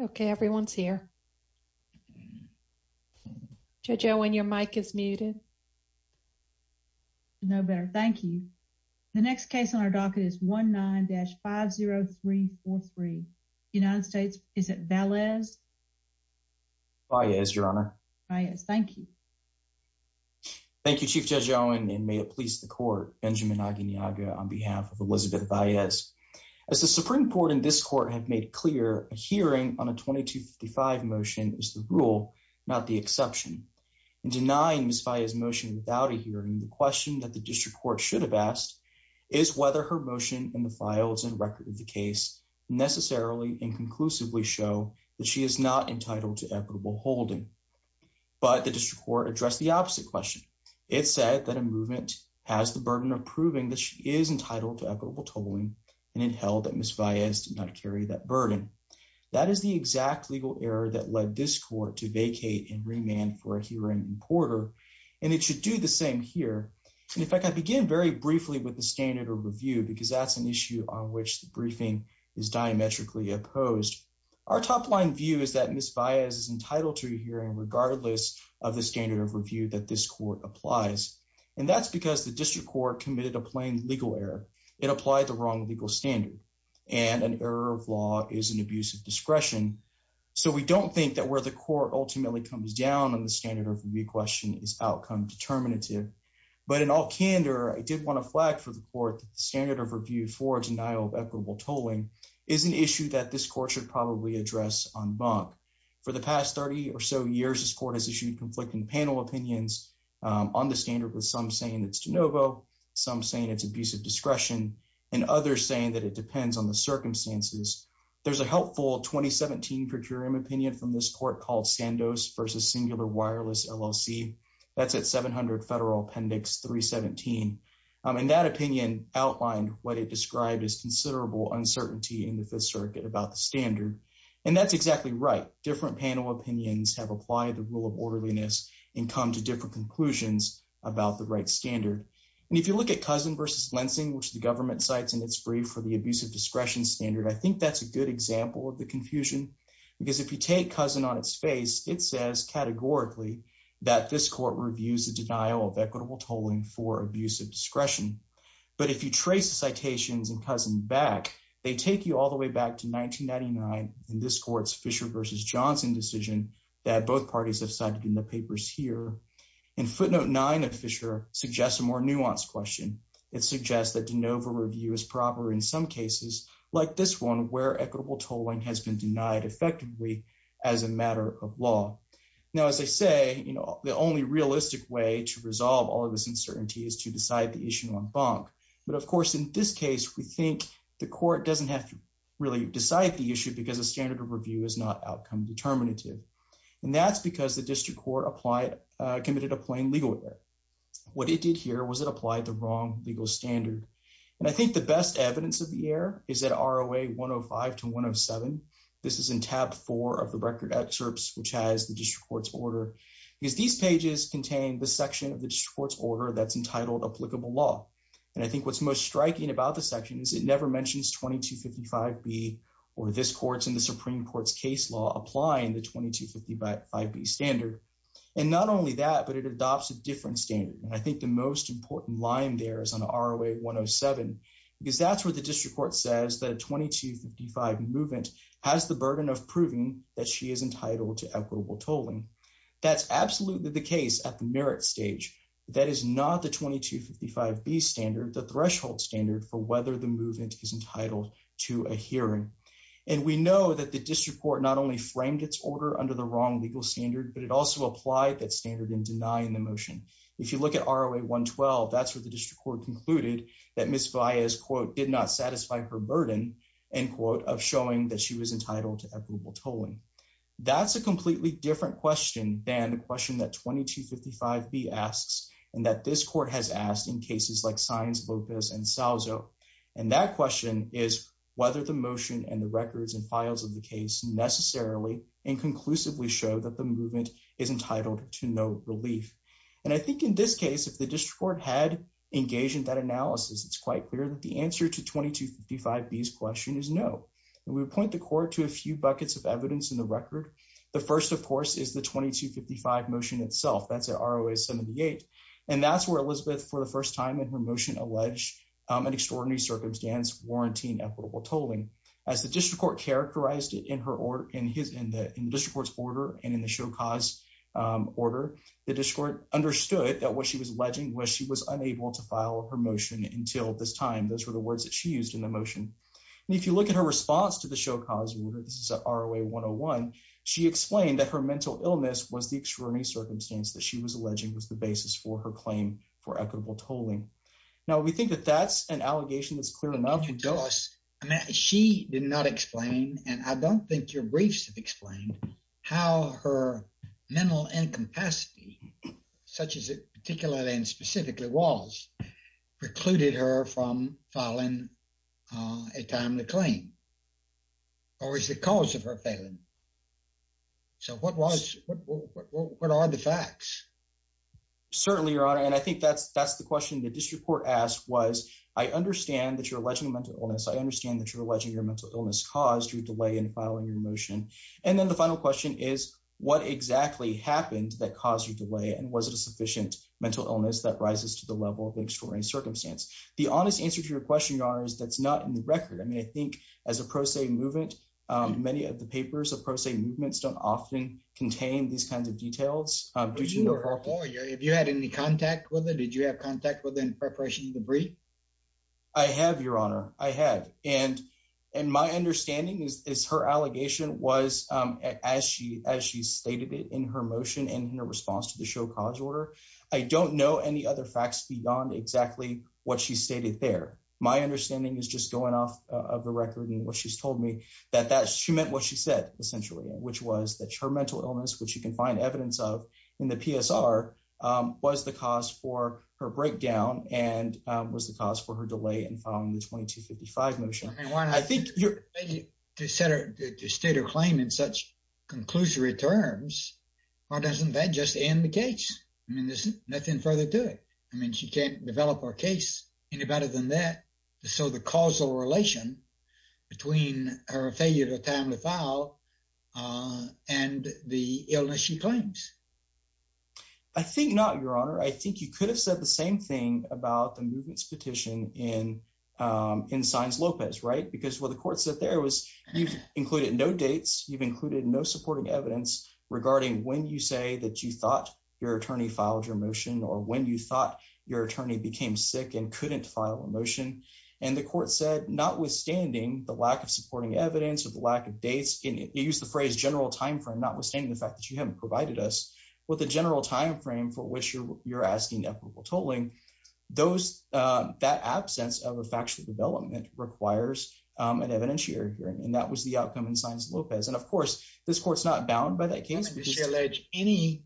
Okay, everyone's here. Judge Owen, your mic is muted. No better, thank you. The next case on our docket is 19-50343. United States, is it Valles? Valles, your honor. Valles, thank you. Thank you, Chief Judge Owen, and may it please the court, Benjamin Aguiñaga, on behalf of Elizabeth Valles. As the Supreme Court and this court have made clear, a hearing on a 2255 motion is the rule, not the exception. In denying Ms. Valles' motion without a hearing, the question that the district court should have asked is whether her motion in the files and record of the case necessarily and conclusively show that she is not entitled to equitable holding. But the district court addressed the opposite question. It said that a movement has the burden of proving that she is entitled to equitable tolling, and it held that Ms. Valles did not carry that burden. That is the exact legal error that led this court to vacate and remand for a hearing in Porter, and it should do the same here. In fact, I begin very briefly with the standard of review because that's an issue on which the briefing is diametrically opposed. Our top-line view is that Ms. Valles is entitled to a hearing regardless of the standard of review that this court applies, and that's because the district court committed a plain legal error. It applied the wrong legal standard, and an error of law is an abuse of discretion, so we don't think that where the court ultimately comes down on the standard of review question is outcome determinative. But in all candor, I did want to flag for the court that the standard of review for denial of equitable tolling is an issue that this court should probably address en banc. For the past 30 or so years, this court has issued conflicting panel opinions on the standard, with some saying it's de novo, some saying it's abuse of discretion, and others saying that it depends on the circumstances. There's a helpful 2017 per curiam opinion from this court called Sandos v. Singular Wireless, LLC. That's at 700 Federal Appendix 317, and that opinion outlined what it described as considerable uncertainty in the Fifth Circuit about the standard, and that's exactly right. Different panel opinions have applied the rule of orderliness and come to different conclusions about the right standard. And if you look at Cousin v. Lensing, which the government cites in its brief for the abuse of discretion standard, I think that's a good example of the confusion, because if you take Cousin on its face, it says categorically that this court reviews the denial of equitable tolling for abuse of discretion. But if you trace the citations in Cousin back, they take you all the way back to what both parties have cited in the papers here. And footnote 9 of Fisher suggests a more nuanced question. It suggests that de novo review is proper in some cases, like this one, where equitable tolling has been denied effectively as a matter of law. Now, as I say, you know, the only realistic way to resolve all of this uncertainty is to decide the issue en banc. But of course, in this case, we think the court doesn't have to really decide the issue because the standard of review is not determinative. And that's because the district court committed a plain legal error. What it did here was it applied the wrong legal standard. And I think the best evidence of the error is that ROA 105 to 107, this is in tab four of the record excerpts, which has the district court's order, because these pages contain the section of the district court's order that's entitled applicable law. And I think what's most striking about the section is it never mentions 2255B or this court's in the Supreme Court's case law applying the 2255B standard. And not only that, but it adopts a different standard. And I think the most important line there is on ROA 107, because that's where the district court says that a 2255 movement has the burden of proving that she is entitled to equitable tolling. That's absolutely the case at the merit stage. That is not the 2255B standard, the threshold standard for whether the movement is entitled to a hearing. And we know that the district court not only framed its order under the wrong legal standard, but it also applied that standard in denying the motion. If you look at ROA 112, that's where the district court concluded that Ms. Valles, quote, did not satisfy her burden, end quote, of showing that she was entitled to equitable tolling. That's a completely different question than the question that 2255B asks and that this court has asked in cases like Sines, Lopez, and Salzo. And that question is whether the motion and the records and files of the case necessarily and conclusively show that the movement is entitled to no relief. And I think in this case, if the district court had engaged in that analysis, it's quite clear that the answer to 2255B's question is no. And we would point the court to a few buckets of evidence in the record. The first, of course, is the 2255 motion itself. That's at ROA 78. And that's where Elizabeth, for the first time in her motion, alleged an extraordinary circumstance warranting equitable tolling. As the district court characterized it in the district court's order and in the show cause order, the district court understood that what she was alleging was she was unable to file her motion until this time. Those were the words that she used in the motion. And if you look at her response to the show cause order, this is at ROA 101, she explained that her mental illness was the extraordinary circumstance that she was alleging was the basis for her claim for equitable tolling. Now, we think that that's an allegation that's clear enough. You tell us. I mean, she did not explain, and I don't think your briefs have explained, how her mental incapacity, such as it particularly and specifically was, precluded her from filing a timely claim. Or is the cause of her failing? So what are the facts? Certainly, Your Honor. And I think that's the question the district court asked was, I understand that you're alleging a mental illness. I understand that you're alleging your mental illness caused your delay in filing your motion. And then the final question is, what exactly happened that caused your delay? And was it a sufficient mental illness that circumstance? The honest answer to your question, Your Honor, is that's not in the record. I mean, I think as a pro se movement, many of the papers of pro se movements don't often contain these kinds of details. Have you had any contact with her? Did you have contact with her in preparation of the brief? I have, Your Honor. I have. And my understanding is her allegation was, as she stated it in her motion and her response to the show cause order. I don't know any other facts beyond exactly what she stated there. My understanding is just going off of the record and what she's told me that she meant what she said, essentially, which was that her mental illness, which you can find evidence of in the PSR, was the cause for her breakdown and was the cause for her delay in filing the 2255 motion. I mean, why not? To state her claim in such conclusory terms, why doesn't that just end the case? I mean, there's nothing further to it. I can't develop our case any better than that. So the causal relation between her failure to attempt to file and the illness she claims. I think not, Your Honor. I think you could have said the same thing about the movement's petition in Sines Lopez, right? Because what the court said there was you've included no dates. You've included no supporting evidence regarding when you say that you thought your attorney filed your motion or when you thought your attorney became sick and couldn't file a motion. And the court said, notwithstanding the lack of supporting evidence or the lack of dates, you used the phrase general time frame, notwithstanding the fact that you haven't provided us with a general time frame for which you're asking equitable tolling, that absence of a factual development requires an evidence-shared hearing. And that was the outcome in Sines Lopez. And of course, this court's not bound by that case. Did she allege any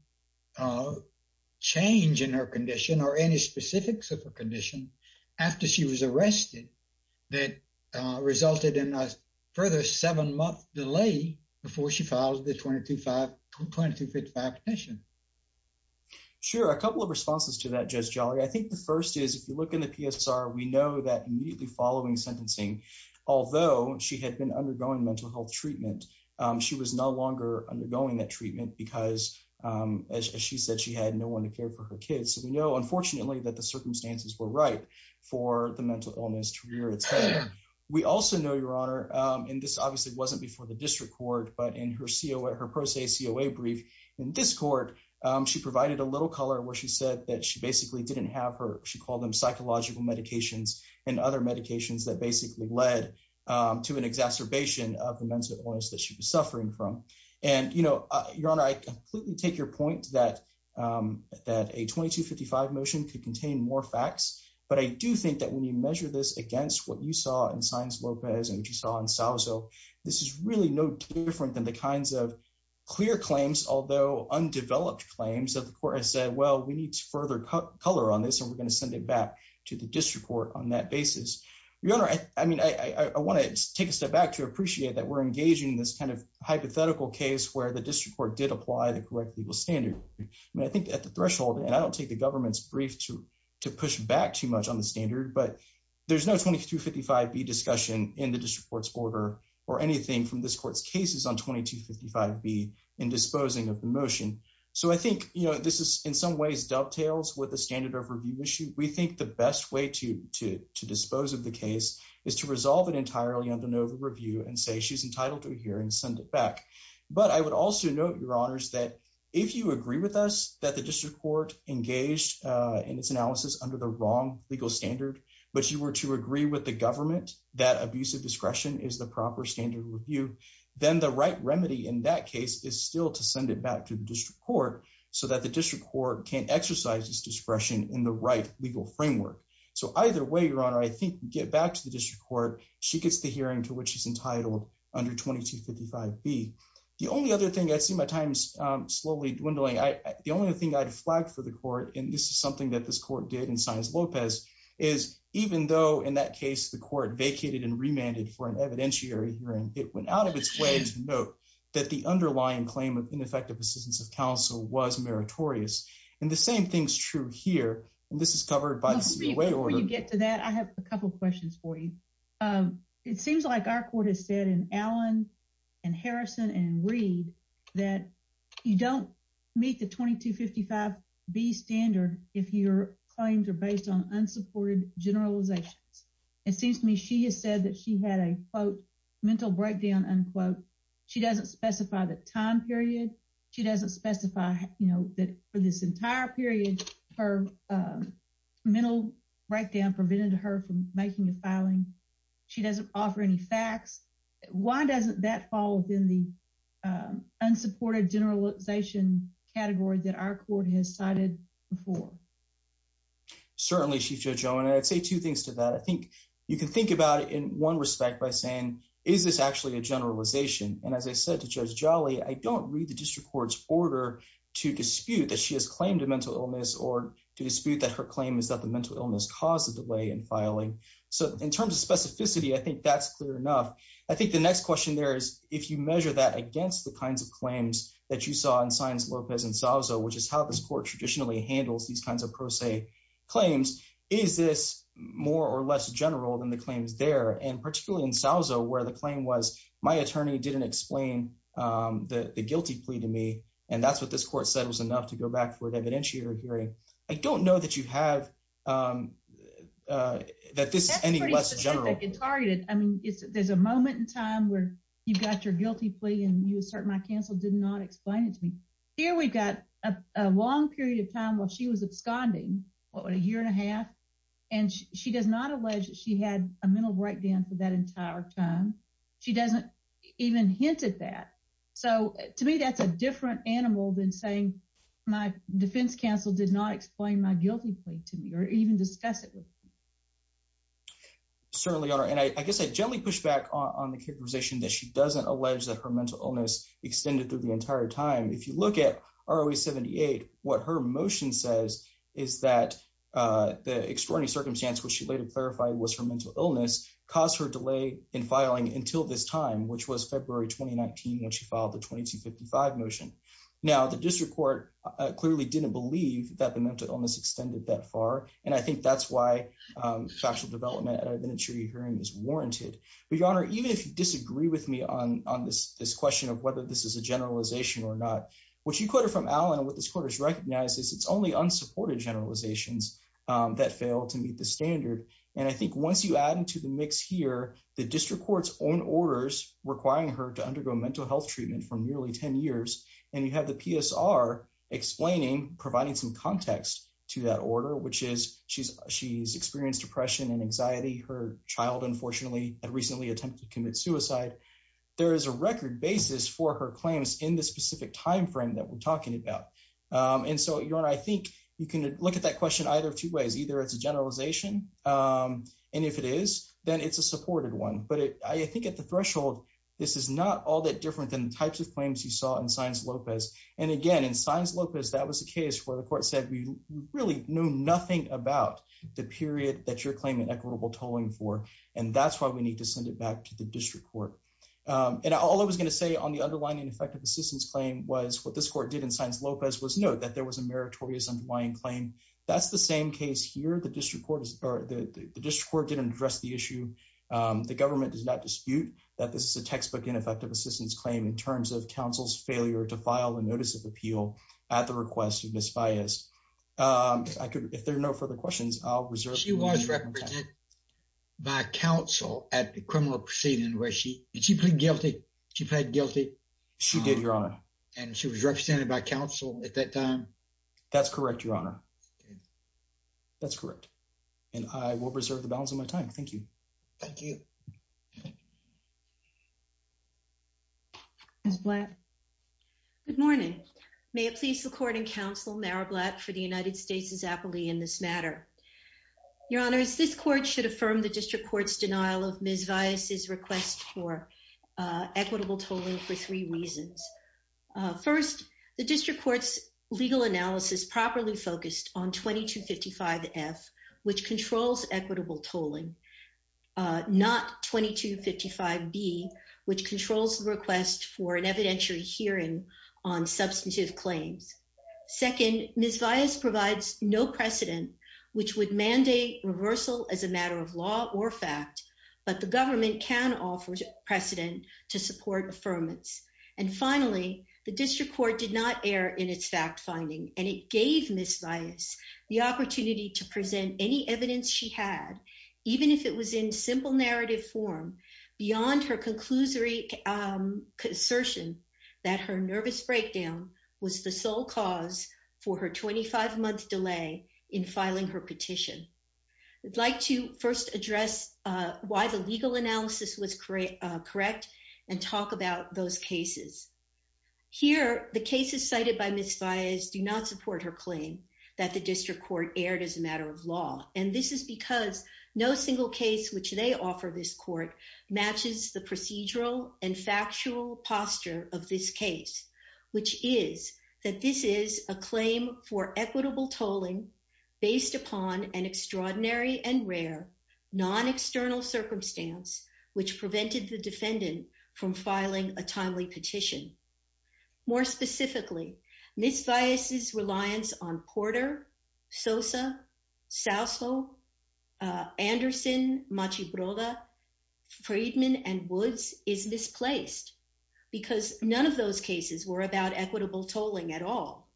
change in her condition or any specifics of her condition after she was arrested that resulted in a further seven-month delay before she filed the 2255 petition? Sure. A couple of responses to that, Judge Jolly. I think the first is if you look in the PSR, we know that immediately following sentencing, although she had been undergoing mental health treatment, she was no longer undergoing that treatment because, as she said, she had no one to care for her kids. So we know, unfortunately, that the circumstances were right for the mental illness to rear its head. We also know, Your Honor, and this obviously wasn't before the district court, but in her pro se COA brief in this court, she provided a little color where she said that she basically she called them psychological medications and other medications that basically led to an exacerbation of the mental illness that she was suffering from. And Your Honor, I completely take your point that a 2255 motion could contain more facts. But I do think that when you measure this against what you saw in Sines Lopez and what you saw in Salvo, this is really no different than the kinds of clear claims, although undeveloped claims, that the court has said, well, we need to further color on this and we're going to send it back to the district court on that basis. Your Honor, I mean, I want to take a step back to appreciate that we're engaging this kind of hypothetical case where the district court did apply the correct legal standard. I mean, I think at the threshold, and I don't take the government's brief to push back too much on the standard, but there's no 2255B discussion in the district court's order or anything from this court's cases on 2255B in disposing of the motion. So I think, you know, this is in some ways dovetails with the standard of review issue. We think the best way to dispose of the case is to resolve it entirely under no review and say she's entitled to hear and send it back. But I would also note, Your Honors, that if you agree with us that the district court engaged in its analysis under the wrong legal standard, but you were to agree with the government that abusive discretion is the proper standard review, then the right remedy in that case is still to send it back to the district court so that the district court can exercise its discretion in the right legal framework. So either way, Your Honor, I think get back to the district court. She gets the hearing to which she's entitled under 2255B. The only other thing, I see my time's slowly dwindling. The only other thing I'd flagged for the court, and this is something that this court did in Sanchez-Lopez, is even though in that case, the court vacated and remanded for an evidentiary hearing, it went out of its way to note that the underlying claim of ineffective assistance of counsel was meritorious. And the same thing's true here, and this is covered by the CWA order. Before you get to that, I have a couple of questions for you. It seems like our court has said in Allen and Harrison and Reed that you don't meet the 2255B standard if your claims are mental breakdown, unquote. She doesn't specify the time period. She doesn't specify that for this entire period, her mental breakdown prevented her from making a filing. She doesn't offer any facts. Why doesn't that fall within the unsupported generalization category that our court has cited before? Certainly, Chief Judge Owen, I'd say two things to that. I think you can think about it one respect by saying, is this actually a generalization? And as I said to Judge Jolly, I don't read the district court's order to dispute that she has claimed a mental illness or to dispute that her claim is that the mental illness caused the delay in filing. So in terms of specificity, I think that's clear enough. I think the next question there is, if you measure that against the kinds of claims that you saw in Sanchez-Lopez and Salvo, which is how this court traditionally handles these kinds of pro se claims, is this more or less general than the claims there? And particularly in Salvo, where the claim was, my attorney didn't explain the guilty plea to me. And that's what this court said was enough to go back for an evidentiator hearing. I don't know that you have, that this is any less general. That's pretty specific and targeted. I mean, there's a moment in time where you've got your guilty plea and you assert my counsel did not explain it to me. Here, we've got a long period of time while she was absconding, what, a year and a half. And she does not allege that she had a mental breakdown for that entire time. She doesn't even hint at that. So to me, that's a different animal than saying my defense counsel did not explain my guilty plea to me or even discuss it with me. Certainly, Your Honor. And I guess I gently push back on the characterization that she doesn't allege that her mental illness extended through the entire time. If you look at ROA 78, what her motion says is that the extraordinary circumstance which she later clarified was her mental illness caused her delay in filing until this time, which was February 2019, when she filed the 2255 motion. Now, the district court clearly didn't believe that the mental illness extended that far. And I think that's why factual development and evidentiary hearing is warranted. But Your Honor, even if you disagree with me on this question of whether this is a generalization or not, what you quoted from Allen and what this court has recognized is it's only unsupported generalizations that fail to meet the standard. And I think once you add into the mix here, the district court's own orders requiring her to undergo mental health treatment for nearly 10 years, and you have the PSR explaining, providing some context to that order, which is she's experienced depression and anxiety. Her child, unfortunately, had recently attempted to commit suicide. There is a record basis for her claims in this specific timeframe that we're talking about. And so, Your Honor, I think you can look at that question either two ways. Either it's a generalization, and if it is, then it's a supported one. But I think at the threshold, this is not all that different than the types of claims you saw in Saenz-Lopez. And again, in Saenz-Lopez, that was a case where the court said we really knew nothing about the period that you're claiming equitable tolling for, and that's why we need to send it back to the district court. And all I was going to say on the underlying ineffective assistance claim was what this court did in Saenz-Lopez was note that there was a meritorious underlying claim. That's the same case here. The district court didn't address the issue. The government does not dispute that this is a textbook ineffective assistance claim in terms of counsel's failure to file a notice of appeal at the request of Ms. Baez. If there are no further questions, I'll reserve the moment. She was represented by counsel at the criminal proceeding, was she? Did she plead guilty? She pled guilty. She did, Your Honor. And she was represented by counsel at that time? That's correct, Your Honor. That's correct. And I will preserve the balance of my time. Thank you. Thank you. Ms. Blatt. Good morning. May it please the court and counsel Mara Blatt for the United States' appellee in this matter. Your Honor, this court should affirm the district court's denial of Ms. Baez's request for equitable tolling for three reasons. First, the district court's legal analysis properly focused on 2255F, which controls equitable tolling, not 2255B, which controls the request for an evidentiary hearing on substantive claims. Second, Ms. Baez provides no precedent, which would mandate reversal as a matter of law or fact, but the government can offer precedent to support affirmance. And finally, the district court did not err in its fact finding, and it gave Ms. Baez the opportunity to present any evidence she had, even if it was in simple narrative form, beyond her conclusory assertion that her nervous breakdown was the sole cause for her 25-month delay in filing her petition. I'd like to first address why the legal analysis was correct and talk about those cases. Here, the cases cited by Ms. Baez do not support her claim that the district court erred as a matter of law, and this is because no single case which they offer this court matches the procedural and factual posture of this case, which is that this is a claim for equitable tolling based upon an extraordinary and rare non-external circumstance which prevented the defendant from filing a timely petition. More specifically, Ms. Baez's reliance on Porter, Sosa, Sousa, Anderson, Machi Broda, Friedman, and Woods is misplaced because none of those cases were about equitable tolling at all.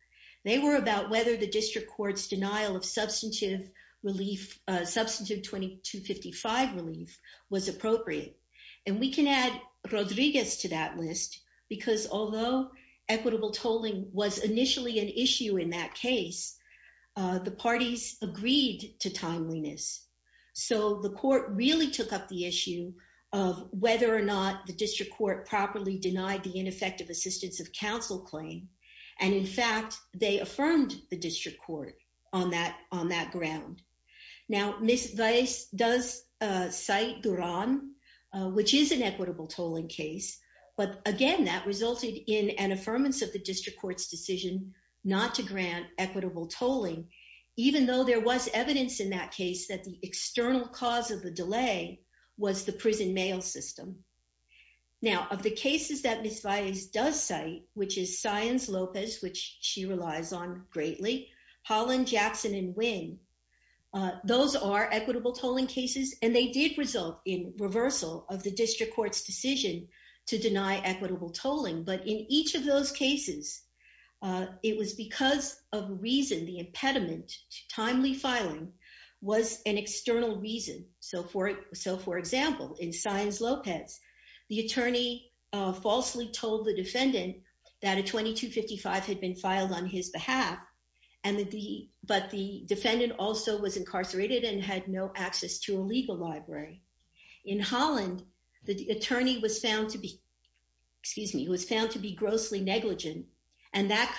They were about whether the district court's denial of substantive relief, substantive 2255 relief, was appropriate. And we can add Rodriguez to that list because although equitable tolling was initially an issue in that case, the parties agreed to timeliness. So the court really took up the issue of whether or not the district court properly denied the ineffective assistance of counsel claim, and in fact, they affirmed the district court on that ground. Now, Ms. Baez does cite Duran, which is an equitable tolling case, but again, that resulted in an affirmance of the district court's decision not to grant equitable tolling, even though there was evidence in that case that the external cause of the delay was the prison mail system. Now, of the cases that Ms. Baez does cite, which is Saenz Lopez, which she relies on greatly, Holland, Jackson, and Winn, those are equitable tolling cases, and they did result in reversal of the district court's decision to deny equitable tolling. But in each of those cases, it was because of reason, the impediment to timely filing was an external reason. So for example, in Saenz Lopez, the attorney falsely told the defendant that a 2255 had been filed on his behalf, but the defendant also was incarcerated and had no access to a legal library. In Holland, the attorney was found to be, excuse me, was found to be grossly negligent, and that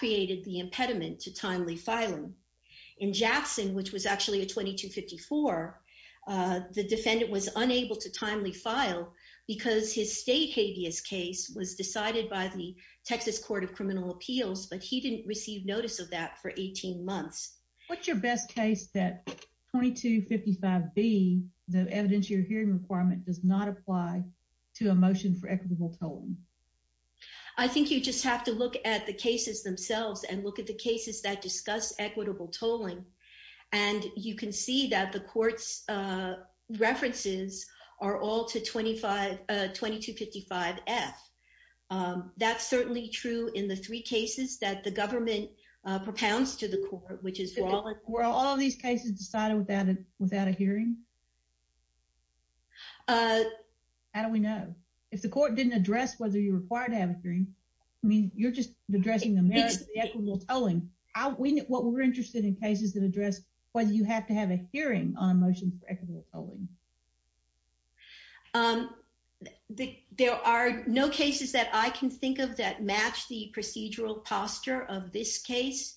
in Jackson, which was actually a 2254, the defendant was unable to timely file because his state habeas case was decided by the Texas Court of Criminal Appeals, but he didn't receive notice of that for 18 months. What's your best case that 2255B, the evidence you're hearing requirement, does not apply to a motion for equitable tolling? I think you just have to look at the cases themselves and look at the cases that discuss equitable tolling, and you can see that the court's references are all to 2255F. That's certainly true in the three cases that the government propounds to the court, which is- Were all these cases decided without a hearing? How do we know? If the court didn't address whether you're required to have a hearing, I mean, you're just addressing the merits of equitable tolling. What we're interested in cases that address whether you have to have a hearing on a motion for equitable tolling. There are no cases that I can think of that match the procedural posture of this case,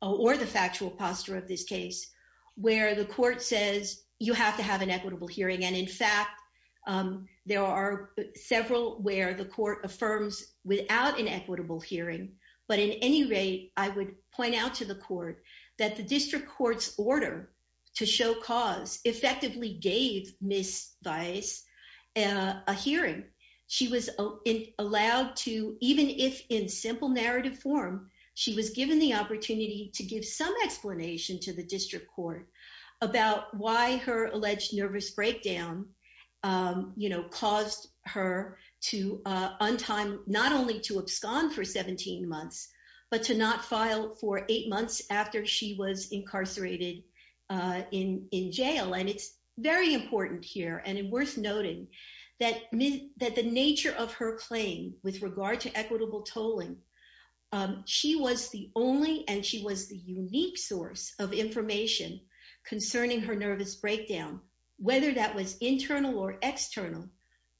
or the factual posture of this case, where the court says you have to have an equitable hearing, and in fact, there are several where the court affirms without an equitable hearing, but in any rate, I would point out to the court that the district court's order to show cause effectively gave Ms. Weiss a hearing. She was allowed to, even if in simple narrative form, she was given the opportunity to give some explanation to the district court about why her alleged nervous breakdown caused her to not only to abscond for 17 months, but to not file for eight months after she was incarcerated in jail. It's very important here, and it's worth noting that the nature of her claim with regard to equitable tolling, um, she was the only, and she was the unique source of information concerning her nervous breakdown, whether that was internal or external,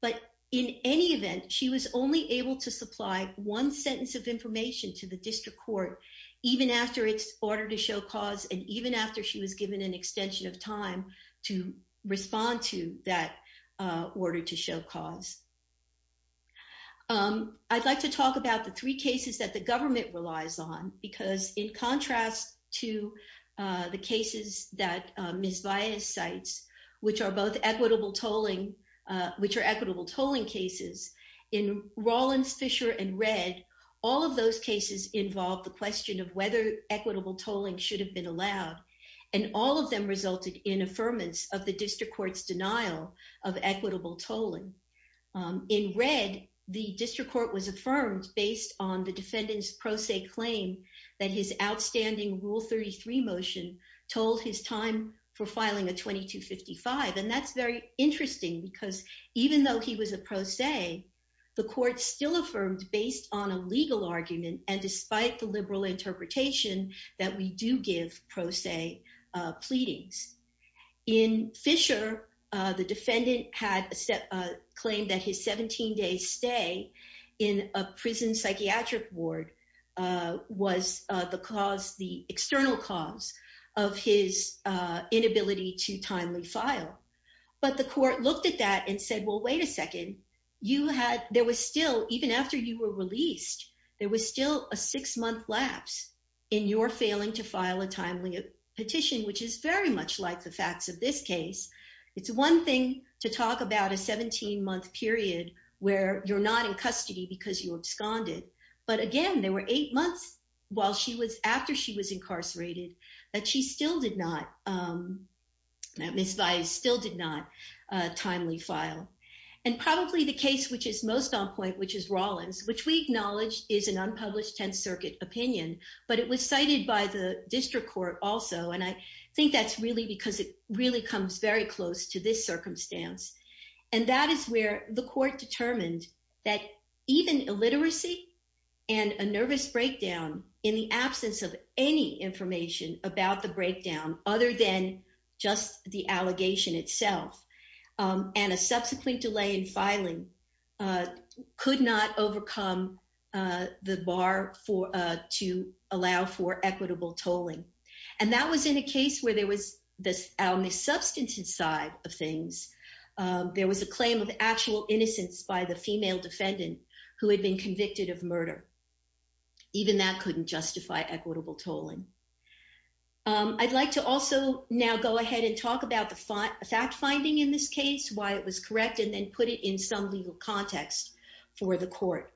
but in any event, she was only able to supply one sentence of information to the district court, even after its order to show cause, and even after she was given an extension of time to respond to that order to show cause. Um, I'd like to talk about the three cases that the government relies on, because in contrast to, uh, the cases that Ms. Weiss cites, which are both equitable tolling, uh, which are equitable tolling cases, in Rollins, Fisher, and Red, all of those cases involve the question of whether equitable tolling should have been allowed, and all of them resulted in affirmance of the district court's denial of equitable tolling. Um, in Red, the district court was affirmed based on the defendant's pro se claim that his outstanding Rule 33 motion told his time for filing a 2255, and that's very interesting, because even though he was a pro se, the court still affirmed based on a legal argument, and despite the liberal interpretation that we do give pro se, uh, in Fisher, uh, the defendant had a step, uh, claimed that his 17-day stay in a prison psychiatric ward, uh, was, uh, the cause, the external cause of his, uh, inability to timely file, but the court looked at that and said, well, wait a second, you had, there was still, even after you were released, there was still a six-month lapse in your failing to file a timely petition, which is very much like the facts of this case. It's one thing to talk about a 17-month period where you're not in custody because you absconded, but again, there were eight months while she was, after she was incarcerated, that she still did not, um, that Ms. Vias still did not, uh, timely file, and probably the case which is most on point, which is Rollins, which we acknowledge is an that's really because it really comes very close to this circumstance, and that is where the court determined that even illiteracy and a nervous breakdown in the absence of any information about the breakdown other than just the allegation itself, um, and a subsequent delay in filing, uh, could not overcome, uh, the bar for, uh, to allow for equitable tolling, and that was in a case where there was this, our missubstantive side of things, um, there was a claim of actual innocence by the female defendant who had been convicted of murder. Even that couldn't justify equitable tolling. Um, I'd like to also now go ahead and talk about the fact finding in this case, why it was correct, and then put it in some legal context for the court.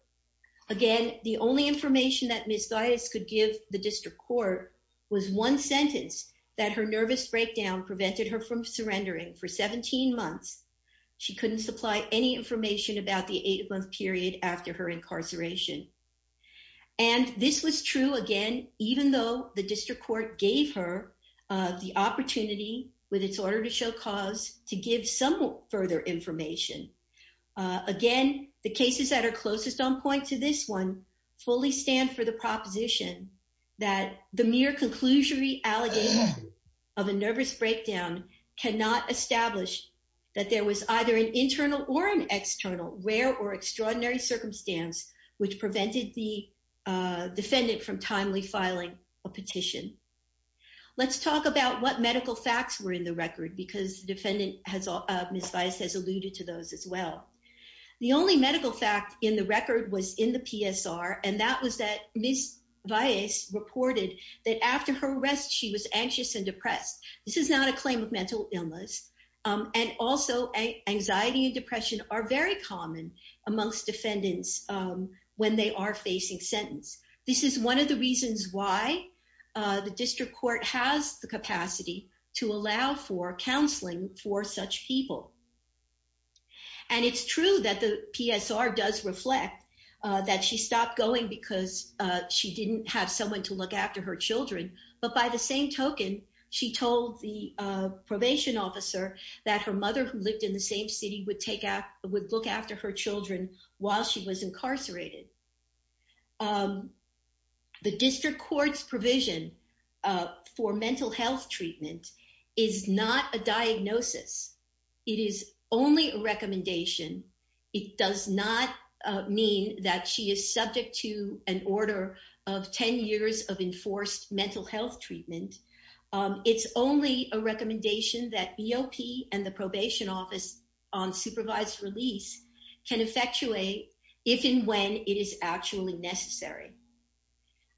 Again, the only information that Ms. Vias could give the district court was one sentence that her nervous breakdown prevented her from surrendering for 17 months. She couldn't supply any information about the eight-month period after her incarceration, and this was true, again, even though the district court gave her, uh, the opportunity with its order to show cause to give some further information. Uh, again, the cases that are closest on point to this one fully stand for the proposition that the mere conclusionary allegation of a nervous breakdown cannot establish that there was either an internal or an external rare or extraordinary circumstance which prevented the, uh, defendant from timely filing a petition. Let's talk about what medical facts were in the record because defendant has, uh, Ms. Vias has alluded to those as well. The only medical fact in the record was in the PSR, and that was that Ms. Vias reported that after her arrest she was anxious and depressed. This is not a claim of mental illness, um, and also anxiety and depression are very common amongst defendants, um, when they are facing sentence. This is one of the reasons why, uh, the district court has the capacity to allow for counseling for such people, and it's true that the PSR does reflect, uh, that she stopped going because, uh, she didn't have someone to look after her children, but by the same token, she told the, uh, probation officer that her mother who lived in the same city would take out, would look after her children while she was incarcerated. Um, the district court's provision, uh, for mental health treatment is not a diagnosis. It is only a recommendation. It does not, uh, mean that she is subject to an order of 10 years of enforced mental health treatment. Um, it's only a recommendation that if and when it is actually necessary.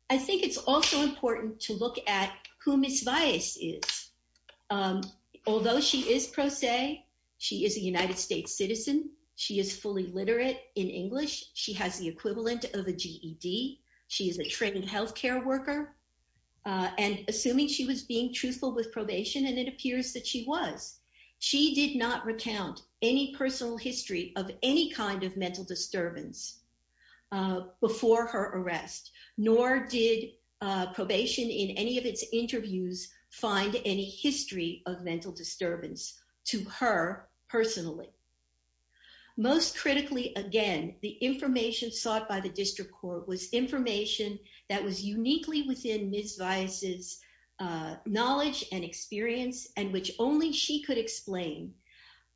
I think it's also important to look at who Ms. Vias is, um, although she is pro se, she is a United States citizen, she is fully literate in English, she has the equivalent of a GED, she is a trained healthcare worker, uh, and assuming she was being truthful with probation, and it appears that she was, she did not recount any personal history of any kind of mental disturbance, uh, before her arrest, nor did, uh, probation in any of its interviews find any history of mental disturbance to her personally. Most critically, again, the information sought by the district court was information that was uniquely within Ms. Vias's, uh, knowledge and experience, and which only she could explain,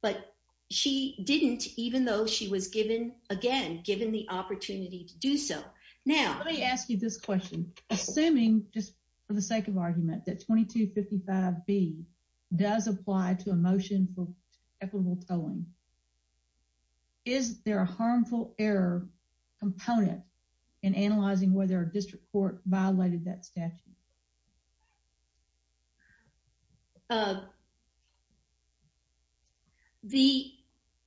but she didn't even though she was given, again, given the opportunity to do so. Now, let me ask you this question. Assuming just for the sake of argument that 2255B does apply to a motion for equitable tolling, is there a harmful error component in analyzing whether a district court violated that statute? Uh, the,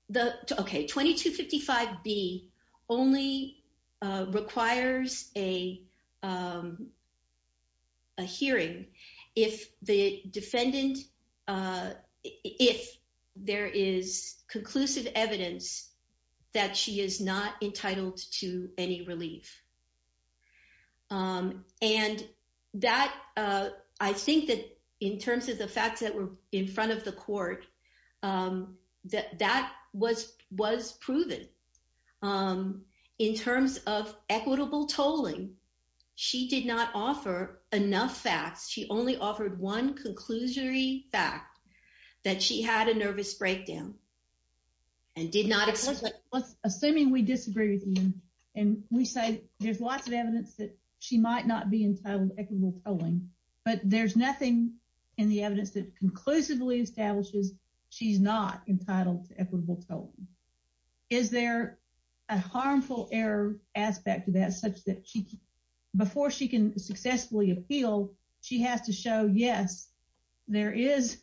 the, okay, 2255B only, uh, requires a, um, a hearing if the defendant, uh, if there is a, I think that in terms of the facts that were in front of the court, um, that, that was, was proven, um, in terms of equitable tolling, she did not offer enough facts. She only offered one conclusory fact that she had a nervous breakdown and did not explain. Assuming we disagree with you, and we say there's lots of evidence that she might not be entitled to equitable tolling, but there's nothing in the evidence that conclusively establishes she's not entitled to equitable tolling. Is there a harmful error aspect of that such that she, before she can successfully appeal, she has to show, yes, there is.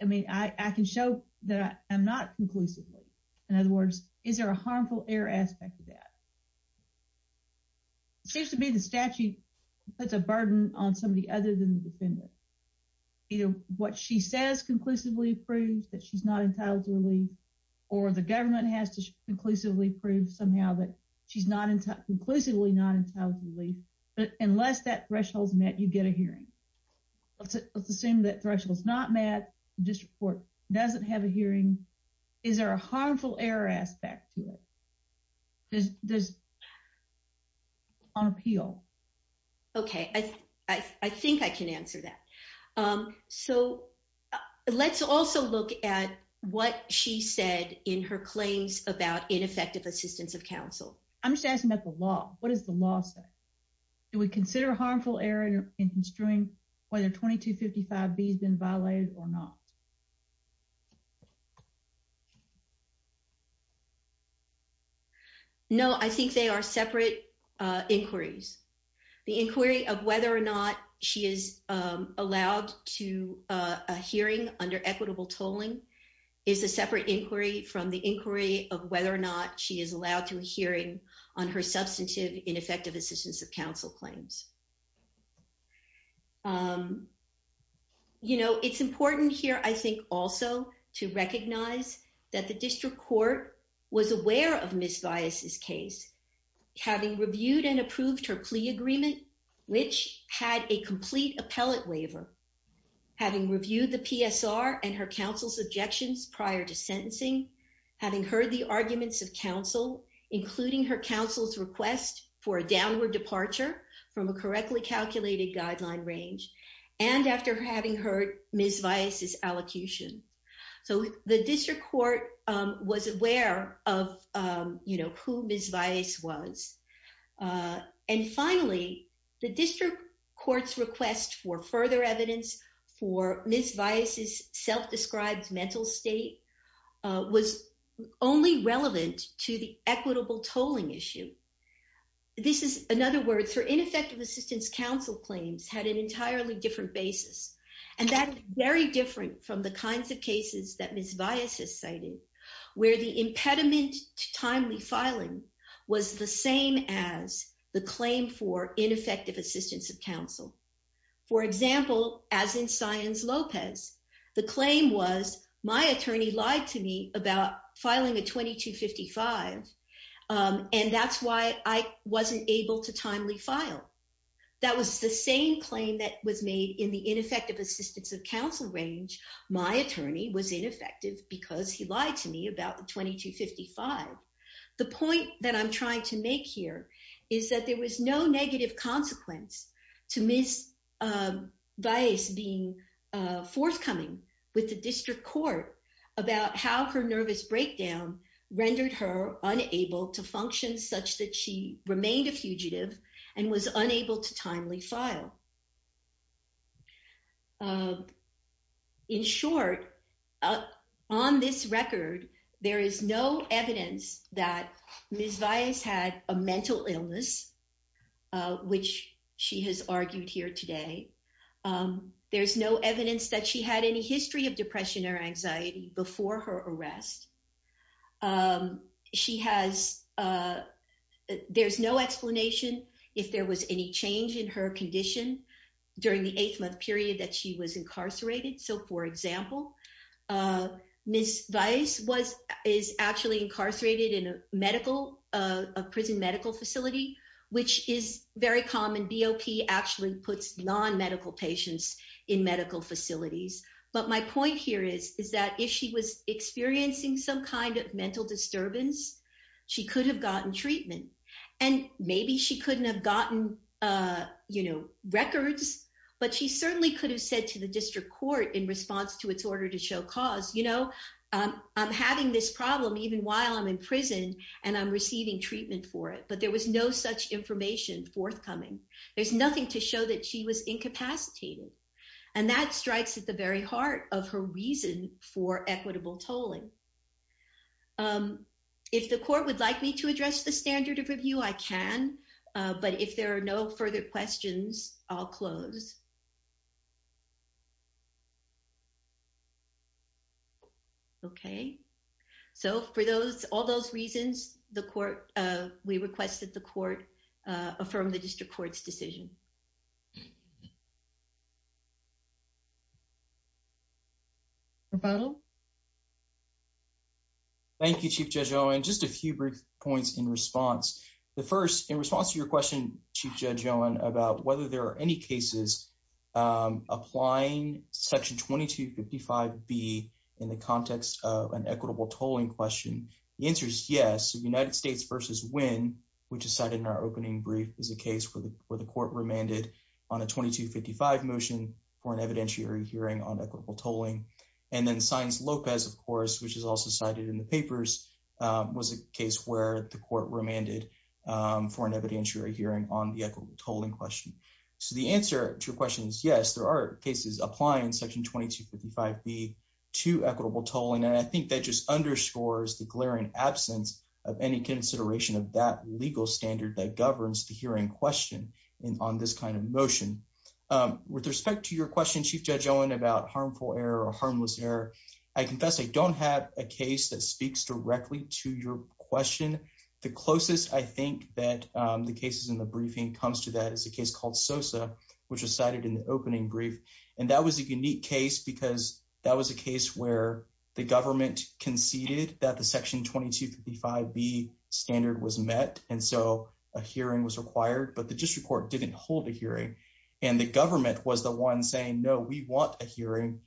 I mean, I, I can show that I'm not conclusively. In other words, is there a harmful error aspect of that? It seems to me the statute puts a burden on somebody other than the defendant. You know, what she says conclusively proves that she's not entitled to relief or the government has to conclusively prove somehow that she's not conclusively not entitled to relief, but unless that threshold's met, you get a hearing. Let's, let's assume that threshold's not met, district court doesn't have a hearing. Is there a harmful error aspect to it? Does, does, on appeal? Okay. I, I think I can answer that. So let's also look at what she said in her claims about ineffective assistance of counsel. I'm just asking about the law. What does the law say? Do we consider harmful error in construing whether 2255B has been violated or not? No, I think they are separate inquiries. The inquiry of whether or not she is allowed to a hearing under equitable tolling is a separate inquiry from the inquiry of whether or not she is allowed to a hearing on her substantive ineffective assistance of counsel claims. You know, it's important here. I think also to recognize that the district court was aware of Ms. Vias's case having reviewed and approved her plea agreement, which had a complete appellate waiver, having reviewed the PSR and her counsel's objections prior to sentencing, having heard the arguments of counsel, including her counsel's request for a downward departure from a court correctly calculated guideline range, and after having heard Ms. Vias's allocution. So the district court was aware of, you know, who Ms. Vias was. And finally, the district court's request for further evidence for Ms. Vias's self-described mental state was only relevant to the equitable effective assistance counsel claims had an entirely different basis. And that's very different from the kinds of cases that Ms. Vias has cited, where the impediment to timely filing was the same as the claim for ineffective assistance of counsel. For example, as in Sayans-Lopez, the claim was, my attorney lied to me about filing a 2255, and that's why I wasn't able to timely file. That was the same claim that was made in the ineffective assistance of counsel range. My attorney was ineffective because he lied to me about the 2255. The point that I'm trying to make here is that there was no negative consequence to Ms. Vias being forthcoming with the district court about how her nervous breakdown rendered her unable to function such that she remained a fugitive and was unable to timely file. In short, on this record, there is no evidence that Ms. Vias had a mental illness, which she has argued here today. There's no evidence that she had any history of depression or anxiety before her arrest. She has, there's no explanation if there was any change in her condition during the eighth month period that she was incarcerated. So for example, Ms. Vias was, is actually incarcerated in a medical, a prison medical facility, which is very common. BOP actually puts non-medical patients in medical facilities. But my point here is, is that if she was experiencing some kind of mental disturbance, she could have gotten treatment and maybe she couldn't have gotten, you know, records, but she certainly could have said to the district court in response to its order to show cause, you know, I'm having this problem even while I'm in prison and I'm receiving treatment for it. But there was no such information forthcoming. There's nothing to show that she was incapacitated and that strikes at the very heart of her reason for equitable tolling. If the court would like me to address the standard of review, I can, but if there are no further questions, I'll close. Okay. So for those, all those reasons, the court, we requested the court affirm the district court's decision. Rebuttal. Thank you, Chief Judge Owen. Just a few brief points in response. The first, in response to your question, Chief Judge Owen, about whether there are any cases where the district court applying section 2255B in the context of an equitable tolling question, the answer is yes. The United States versus Winn, which is cited in our opening brief, is a case where the court remanded on a 2255 motion for an evidentiary hearing on equitable tolling. And then Sines Lopez, of course, which is also cited in the papers, was a case where the court remanded for an evidentiary hearing on the equitable tolling question. So the answer to your question is yes, there are cases applying section 2255B to equitable tolling. And I think that just underscores the glaring absence of any consideration of that legal standard that governs the hearing question on this kind of motion. With respect to your question, Chief Judge Owen, about harmful error or harmless error, I confess I don't have a case that speaks directly to your question. The closest I think that the cases in the briefing comes to that is a case called Sosa, which was cited in the opening brief. And that was a unique case because that was a case where the government conceded that the section 2255B standard was met, and so a hearing was required, but the district court didn't hold a hearing. And the government was the one saying, no, we want a hearing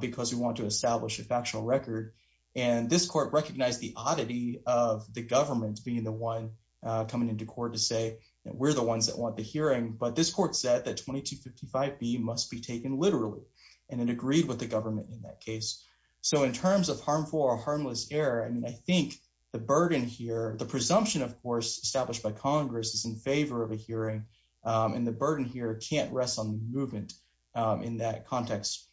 because we want to establish a factual record. And this court recognized the government being the one coming into court to say that we're the ones that want the hearing, but this court said that 2255B must be taken literally, and it agreed with the government in that case. So in terms of harmful or harmless error, I mean, I think the burden here, the presumption, of course, established by Congress is in favor of a hearing, and the burden here can't rest on the movement in that context.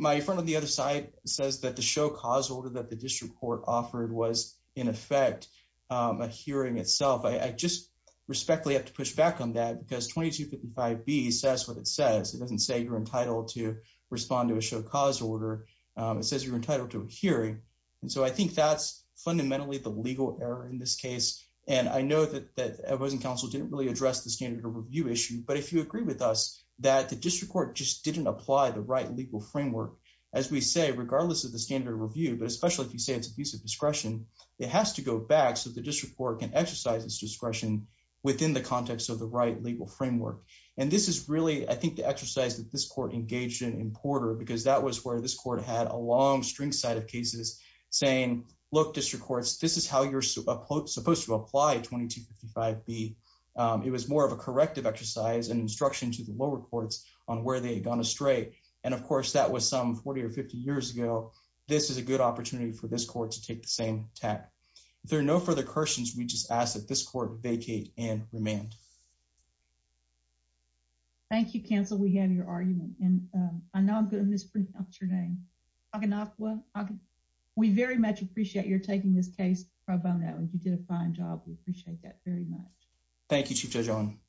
My friend on the other side says that the show cause order that the district court offered was in effect a hearing itself. I just respectfully have to push back on that because 2255B says what it says. It doesn't say you're entitled to respond to a show cause order. It says you're entitled to a hearing. And so I think that's fundamentally the legal error in this case, and I know that the Advising Council didn't really address the standard of review issue, but if you agree with us that the district court just didn't apply the right legal framework, as we say, regardless of the standard of review, but especially if you say it's abusive discretion, it has to go back so the district court can exercise its discretion within the context of the right legal framework. And this is really, I think, the exercise that this court engaged in in Porter because that was where this court had a long string side of cases saying, look, district courts, this is how you're supposed to apply 2255B. It was more of a corrective exercise and instruction to the lower courts on where they had gone astray. And of course, that was some 40 or 50 years ago. This is a good opportunity for this court to take the same tack. If there are no further questions, we just ask that this court vacate and remand. Thank you, counsel. We have your argument and I know I'm going to mispronounce your name. We very much appreciate your taking this case. You did a fine job. We appreciate that very much. Thank you, Chief Judge Owen.